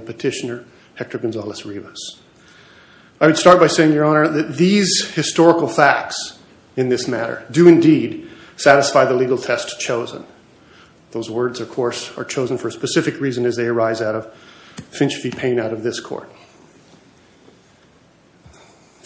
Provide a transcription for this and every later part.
Petitioner Hector Gonzalez-Rivas The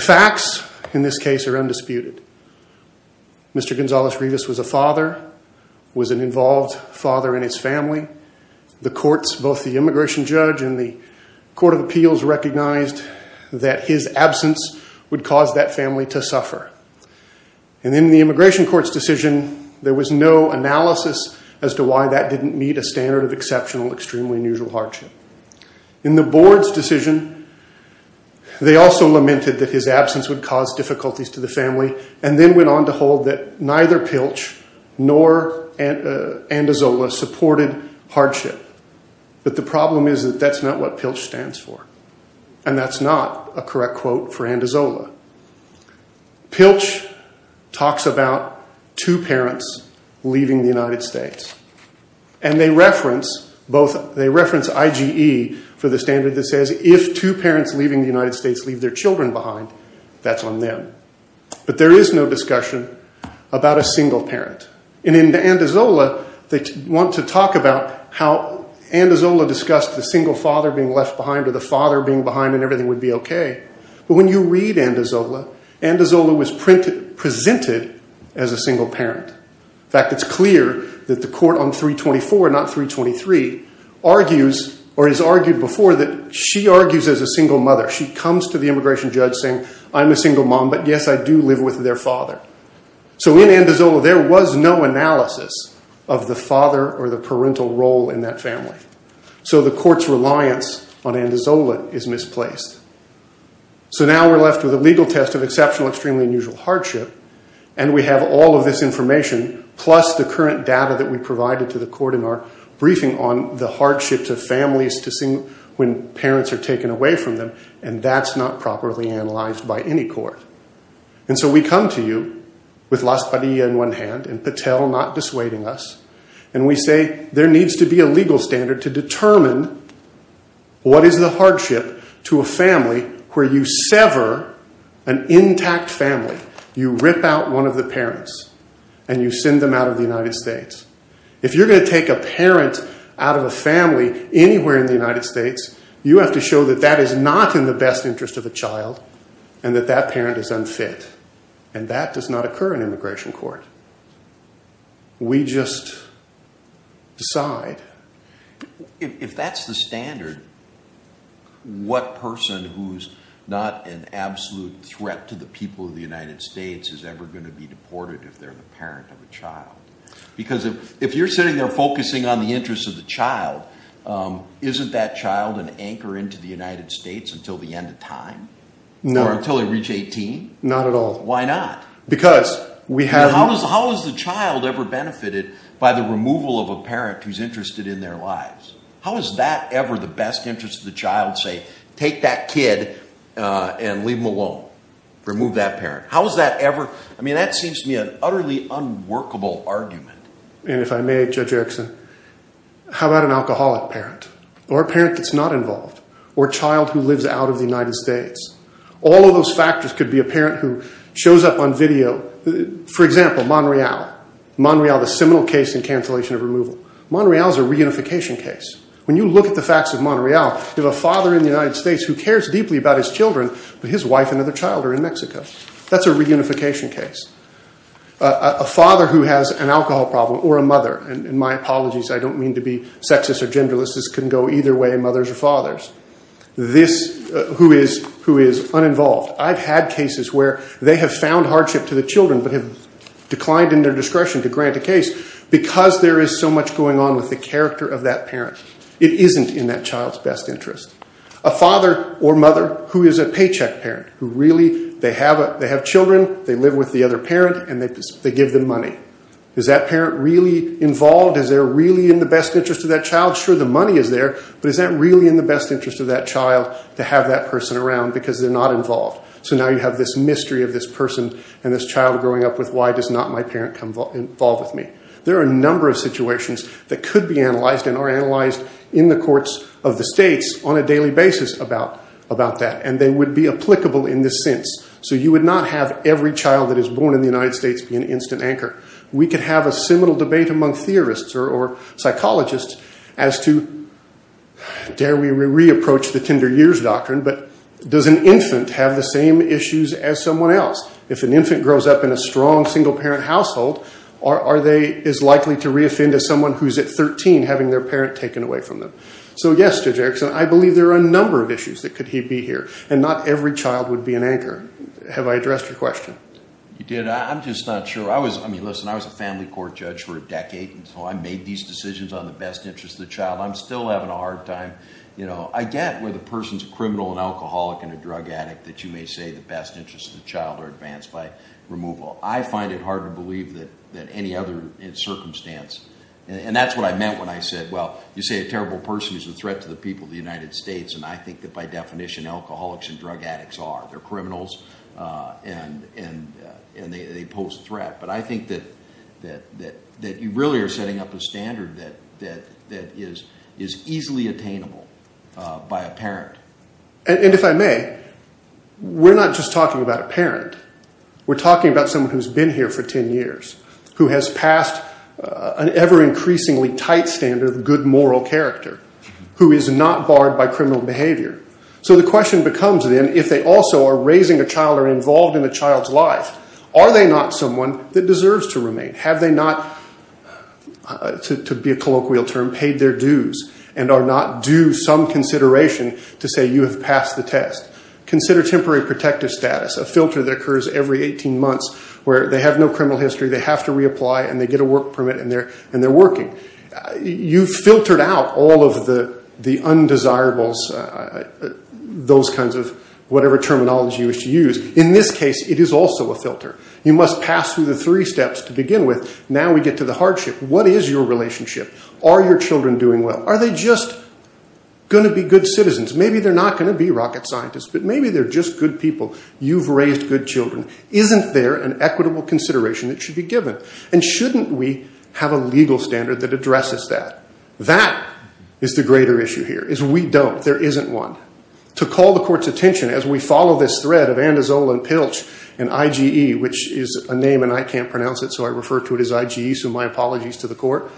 facts in this case are undisputed. Mr. Gonzalez-Rivas was a father, was an involved father in his family. The courts, both the immigration judge and the court of appeals, recognized that his absence would cause that family to suffer. And in the immigration court's decision, there was no analysis as to why that didn't meet a standard of exceptional, extremely unusual hardship. In the board's decision, they also lamented that his absence would cause difficulties to the family, and then went on to hold that neither Pilch nor Andazola supported hardship. But the problem is that that's not what Pilch stands for, and that's not a correct quote for Andazola. Pilch talks about two parents leaving the United States, and they reference IGE for the standard that says, if two parents leaving the United States leave their children behind, that's on them. But there is no discussion about a single parent. And in Andazola, they want to talk about how Andazola discussed the single father being left behind, or the father being behind and everything would be okay. But when you read Andazola, Andazola was presented as a single parent. In fact, it's clear that the court on 324, not 323, argues or has argued before that she argues as a single mother. She comes to the immigration judge saying, I'm a single mom, but yes, I do live with their father. So in Andazola, there was no analysis of the father or the parental role in that family. So the court's reliance on Andazola is misplaced. So now we're left with a legal test of exceptional, extremely unusual hardship, and we have all of this information plus the current data that we provided to the court in our briefing on the hardships of families when parents are taken away from them, and that's not properly analyzed by any court. And so we come to you with Las Padillas in one hand and Patel not dissuading us, and we say there needs to be a legal standard to determine what is the hardship to a family where you sever an intact family, you rip out one of the parents, and you send them out of the United States. If you're going to take a parent out of a family anywhere in the United States, you have to show that that is not in the best interest of a child and that that parent is unfit, and that does not occur in immigration court. We just decide. If that's the standard, what person who's not an absolute threat to the people of the United States is ever going to be deported if they're the parent of a child? Because if you're sitting there focusing on the interest of the child, isn't that child an anchor into the United States until the end of time? No. Or until they reach 18? Not at all. Why not? How has the child ever benefited by the removal of a parent who's interested in their lives? How is that ever the best interest of the child? Say, take that kid and leave him alone. Remove that parent. How is that ever? I mean, that seems to me an utterly unworkable argument. And if I may, Judge Erickson, how about an alcoholic parent or a parent that's not involved or a child who lives out of the United States? All of those factors could be a parent who shows up on video. For example, Monreal. Monreal, the seminal case in cancellation of removal. Monreal is a reunification case. When you look at the facts of Monreal, you have a father in the United States who cares deeply about his children, but his wife and other child are in Mexico. That's a reunification case. A father who has an alcohol problem, or a mother, and my apologies, I don't mean to be sexist or genderless. This can go either way, mothers or fathers. Who is uninvolved. I've had cases where they have found hardship to the children but have declined in their discretion to grant a case because there is so much going on with the character of that parent. It isn't in that child's best interest. A father or mother who is a paycheck parent, who really, they have children, they live with the other parent, and they give them money. Is that parent really involved? Is there really in the best interest of that child? I'm not sure the money is there, but is that really in the best interest of that child to have that person around because they're not involved? So now you have this mystery of this person and this child growing up with, why does not my parent come involve with me? There are a number of situations that could be analyzed and are analyzed in the courts of the states on a daily basis about that, and they would be applicable in this sense. So you would not have every child that is born in the United States be an instant anchor. We could have a seminal debate among theorists or psychologists as to, dare we re-approach the Tinder years doctrine, but does an infant have the same issues as someone else? If an infant grows up in a strong single-parent household, are they as likely to re-offend as someone who is at 13 having their parent taken away from them? So yes, Judge Erickson, I believe there are a number of issues that could be here, and not every child would be an anchor. Have I addressed your question? You did. I'm just not sure. I mean, listen, I was a family court judge for a decade until I made these decisions on the best interest of the child. I'm still having a hard time. I get where the person's a criminal, an alcoholic, and a drug addict, that you may say the best interests of the child are advanced by removal. I find it hard to believe that any other circumstance, and that's what I meant when I said, well, you say a terrible person is a threat to the people of the United States, and I think that by definition, alcoholics and drug addicts are. They're criminals, and they pose a threat. But I think that you really are setting up a standard that is easily attainable by a parent. And if I may, we're not just talking about a parent. We're talking about someone who's been here for 10 years, who has passed an ever-increasingly tight standard of good moral character, who is not barred by criminal behavior. So the question becomes, then, if they also are raising a child or involved in a child's life, are they not someone that deserves to remain? Have they not, to be a colloquial term, paid their dues and are not due some consideration to say you have passed the test? Consider temporary protective status, a filter that occurs every 18 months where they have no criminal history, they have to reapply, and they get a work permit, and they're working. You've filtered out all of the undesirables, those kinds of whatever terminology you wish to use. In this case, it is also a filter. You must pass through the three steps to begin with. Now we get to the hardship. What is your relationship? Are your children doing well? Are they just going to be good citizens? Maybe they're not going to be rocket scientists, but maybe they're just good people. You've raised good children. Isn't there an equitable consideration that should be given? And shouldn't we have a legal standard that addresses that? That is the greater issue here, is we don't. There isn't one. To call the court's attention as we follow this thread of Andazol and Pilch and IGE, which is a name and I can't pronounce it, so I refer to it as IGE, so my apologies to the court.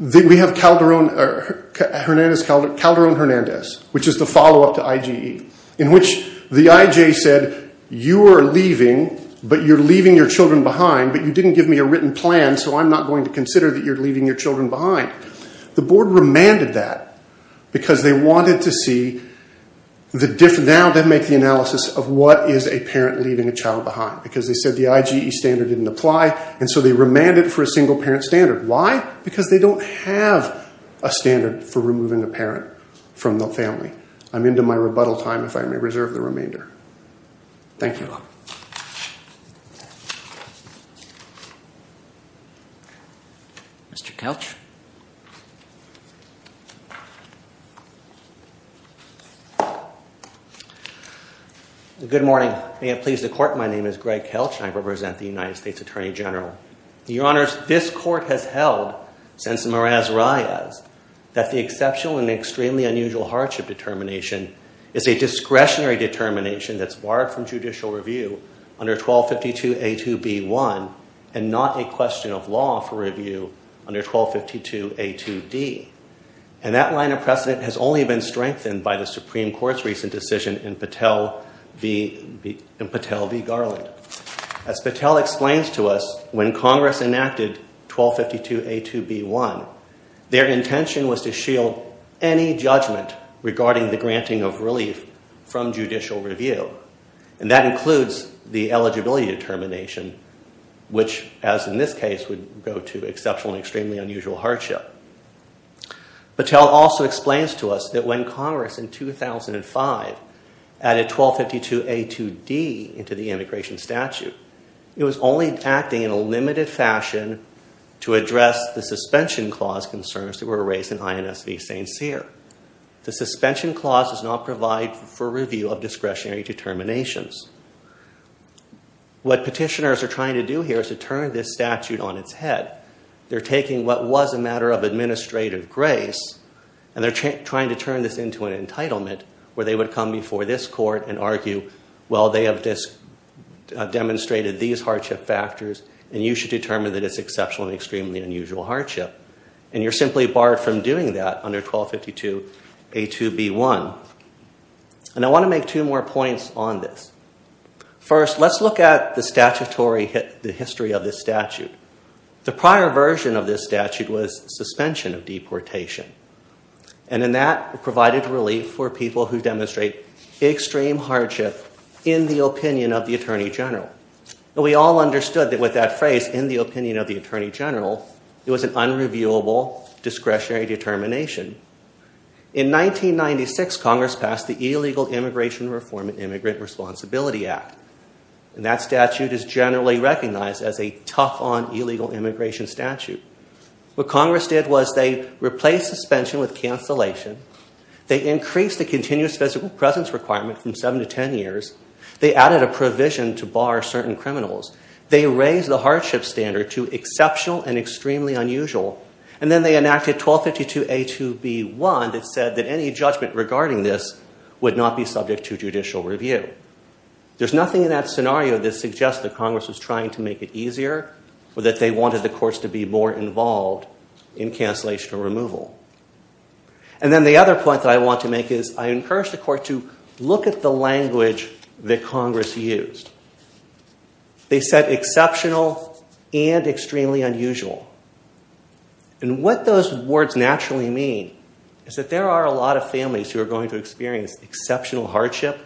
We have Calderon-Hernandez, which is the follow-up to IGE, in which the IJ said you are leaving, but you're leaving your children behind, but you didn't give me a written plan, so I'm not going to consider that you're leaving your children behind. The board remanded that because they wanted to see the difference. Now they make the analysis of what is a parent leaving a child behind, because they said the IGE standard didn't apply, and so they remanded for a single parent standard. Why? Because they don't have a standard for removing a parent from the family. I'm into my rebuttal time, if I may reserve the remainder. Thank you. Mr. Kelch. Good morning. May it please the Court, my name is Greg Kelch, and I represent the United States Attorney General. Your Honors, this Court has held since the Maraz-Rayas that the exceptional and extremely unusual hardship determination is a discretionary determination that's barred from judicial review under 1252A2B1 and not a question of law for review under 1252A2D. And that line of precedent has only been strengthened by the Supreme Court's recent decision in Patel v. Garland. As Patel explains to us, when Congress enacted 1252A2B1, their intention was to shield any judgment regarding the granting of relief from judicial review, and that includes the eligibility determination, which, as in this case, would go to exceptional and extremely unusual hardship. Patel also explains to us that when Congress in 2005 added 1252A2D into the immigration statute, it was only acting in a limited fashion to address the suspension clause concerns that were raised in INS v. St. Cyr. The suspension clause does not provide for review of discretionary determinations. What petitioners are trying to do here is to turn this statute on its head. They're taking what was a matter of administrative grace, and they're trying to turn this into an entitlement where they would come before this Court and argue, well, they have demonstrated these hardship factors, and you should determine that it's exceptional and extremely unusual hardship. And you're simply barred from doing that under 1252A2B1. And I want to make two more points on this. First, let's look at the history of this statute. The prior version of this statute was suspension of deportation, and that provided relief for people who demonstrate extreme hardship in the opinion of the Attorney General. We all understood that with that phrase, in the opinion of the Attorney General, it was an unreviewable discretionary determination. In 1996, Congress passed the Illegal Immigration Reform and Immigrant Responsibility Act, and that statute is generally recognized as a tough-on illegal immigration statute. What Congress did was they replaced suspension with cancellation, they increased the continuous physical presence requirement from 7 to 10 years, they added a provision to bar certain criminals, they raised the hardship standard to exceptional and extremely unusual, and then they enacted 1252A2B1 that said that any judgment regarding this would not be subject to judicial review. There's nothing in that scenario that suggests that Congress was trying to make it easier or that they wanted the courts to be more involved in cancellation or removal. And then the other point that I want to make is I encourage the court to look at the language that Congress used. They said exceptional and extremely unusual. And what those words naturally mean is that there are a lot of families who are going to experience exceptional hardship,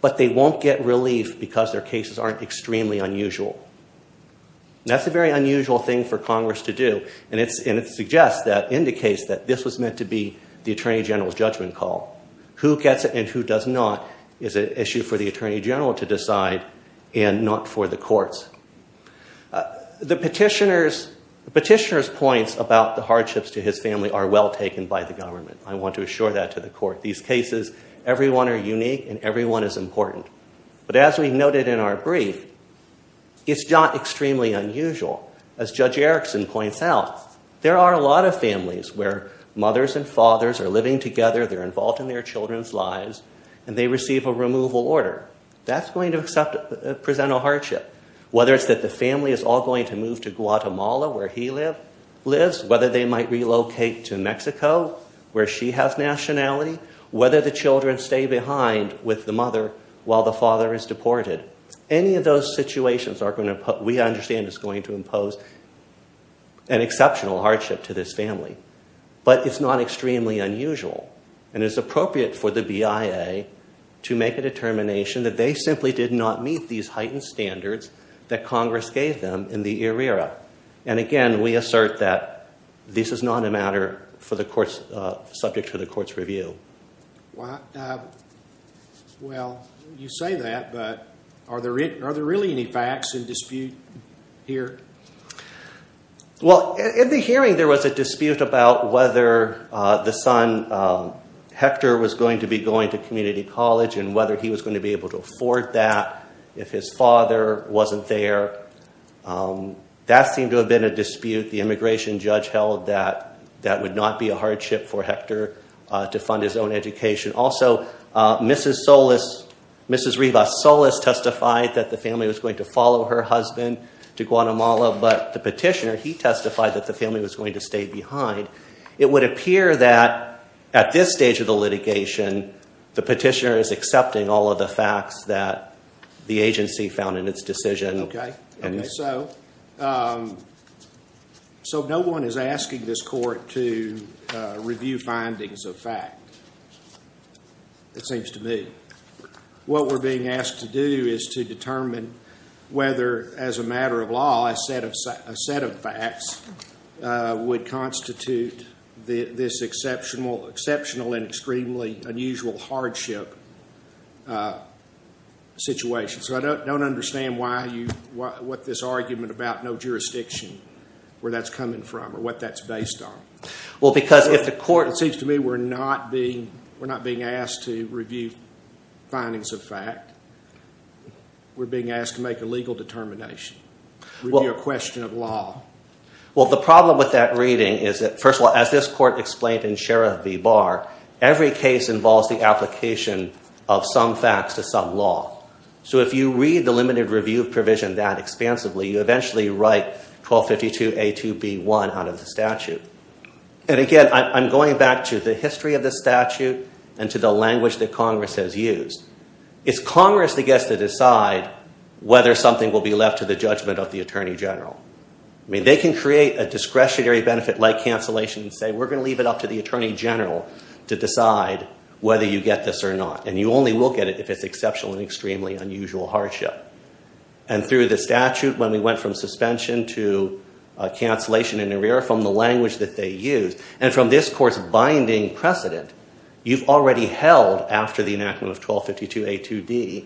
but they won't get relief because their cases aren't extremely unusual. That's a very unusual thing for Congress to do, and it suggests that, indicates that, this was meant to be the Attorney General's judgment call. Who gets it and who does not is an issue for the Attorney General to decide and not for the courts. The petitioner's points about the hardships to his family are well taken by the government. I want to assure that to the court. These cases, everyone are unique, and everyone is important. But as we noted in our brief, it's not extremely unusual. As Judge Erickson points out, there are a lot of families where mothers and fathers are living together, they're involved in their children's lives, and they receive a removal order. That's going to present a hardship, whether it's that the family is all going to move to Guatemala, where he lives, whether they might relocate to Mexico, where she has nationality, whether the children stay behind with the mother while the father is deported. Any of those situations, we understand, is going to impose an exceptional hardship to this family. But it's not extremely unusual, and it's appropriate for the BIA to make a determination that they simply did not meet these heightened standards that Congress gave them in the ERIRA. And again, we assert that this is not a matter subject to the court's review. Well, you say that, but are there really any facts in dispute here? Well, in the hearing, there was a dispute about whether the son, Hector, was going to be going to community college and whether he was going to be able to afford that if his father wasn't there. That seemed to have been a dispute. The immigration judge held that that would not be a hardship for Hector to fund his own education. Also, Mrs. Rivas Solis testified that the family was going to follow her husband to Guatemala, but the petitioner, he testified that the family was going to stay behind. It would appear that at this stage of the litigation, the petitioner is accepting all of the facts that the agency found in its decision. Okay. So no one is asking this court to review findings of fact, it seems to me. What we're being asked to do is to determine whether, as a matter of law, a set of facts would constitute this exceptional and extremely unusual hardship situation. So I don't understand what this argument about no jurisdiction, where that's coming from, or what that's based on. Well, because if the court... It seems to me we're not being asked to review findings of fact. We're being asked to make a legal determination. Review a question of law. Well, the problem with that reading is that, first of all, as this court explained in Sheriff V. Barr, every case involves the application of some facts to some law. So if you read the limited review provision that expansively, you eventually write 1252A2B1 out of the statute. And again, I'm going back to the history of the statute and to the language that Congress has used. It's Congress that gets to decide whether something will be left to the judgment of the Attorney General. I mean, they can create a discretionary benefit like cancellation and say, we're going to leave it up to the Attorney General to decide whether you get this or not. And you only will get it if it's exceptional and extremely unusual hardship. And through the statute, when we went from suspension to cancellation and arrear from the language that they used, and from this court's binding precedent, you've already held, after the enactment of 1252A2D,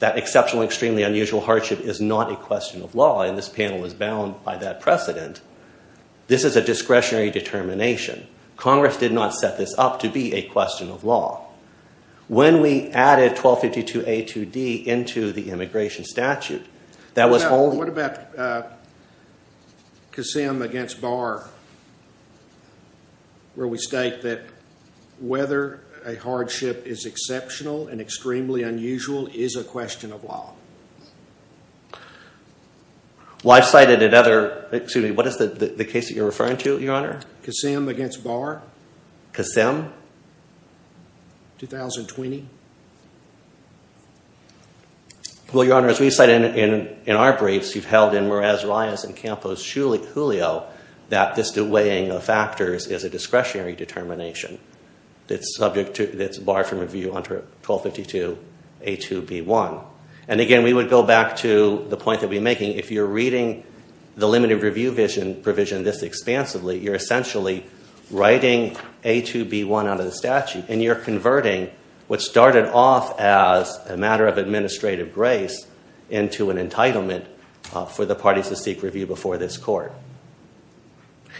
that exceptional and extremely unusual hardship is not a question of law. And this panel is bound by that precedent. This is a discretionary determination. Congress did not set this up to be a question of law. When we added 1252A2D into the immigration statute, that was only... What about Kasem against Barr, where we state that whether a hardship is exceptional and extremely unusual is a question of law? Well, I've cited another... Excuse me, what is the case that you're referring to, Your Honor? Kasem against Barr. Kasem? 2020. Well, Your Honor, as we've cited in our briefs, you've held in Meraz, Reyes, and Campos, Hulio, that this delaying of factors is a discretionary determination that's barred from review under 1252A2B1. And again, we would go back to the point that we're making. If you're reading the limited review provision this expansively, you're essentially writing A2B1 out of the statute, and you're converting what started off as a matter of administrative grace into an entitlement for the parties to seek review before this court.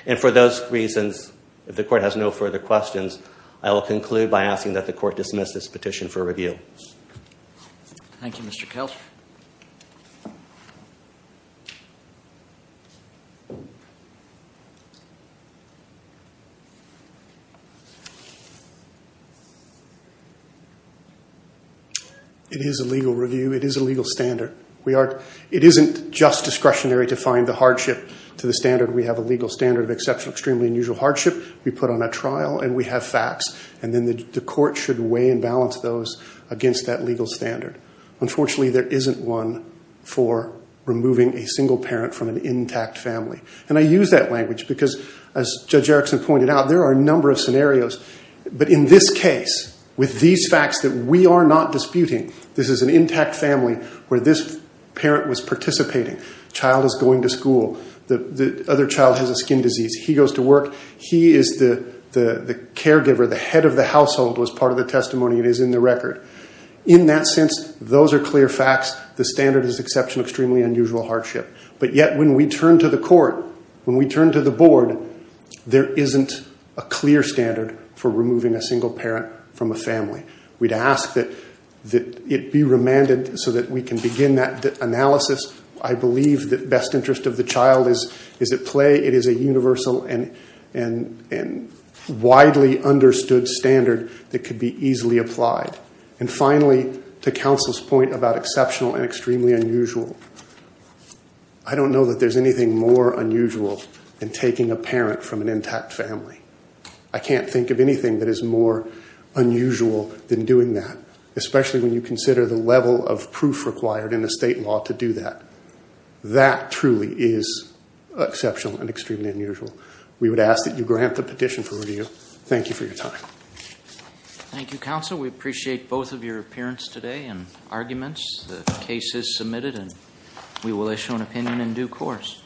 And for those reasons, if the court has no further questions, I will conclude by asking that the court dismiss this petition for review. Thank you, Mr. Kelch. It is a legal review. It is a legal standard. It isn't just discretionary to find the hardship to the standard. We have a legal standard of exceptional, extremely unusual hardship. We put on a trial, and we have facts. And then the court should weigh and balance those against that legal standard. Unfortunately, there isn't one for removing a single parent from an intact family. And I use that language because, as Judge Erickson pointed out, there are a number of scenarios. But in this case, with these facts that we are not disputing, this is an intact family where this parent was participating. The child is going to school. The other child has a skin disease. He goes to work. He is the caregiver. The head of the household was part of the testimony. It is in the record. In that sense, those are clear facts. The standard is exceptional, extremely unusual hardship. But yet, when we turn to the court, when we turn to the board, there isn't a clear standard for removing a single parent from a family. We'd ask that it be remanded so that we can begin that analysis. I believe that best interest of the child is at play. It is a universal and widely understood standard that could be easily applied. And finally, to counsel's point about exceptional and extremely unusual, I don't know that there's anything more unusual than taking a parent from an intact family. I can't think of anything that is more unusual than doing that, especially when you consider the level of proof required in the state law to do that. That truly is exceptional and extremely unusual. We would ask that you grant the petition for review. Thank you for your time. Thank you, counsel. We appreciate both of your appearance today and arguments. The case is submitted, and we will issue an opinion in due course.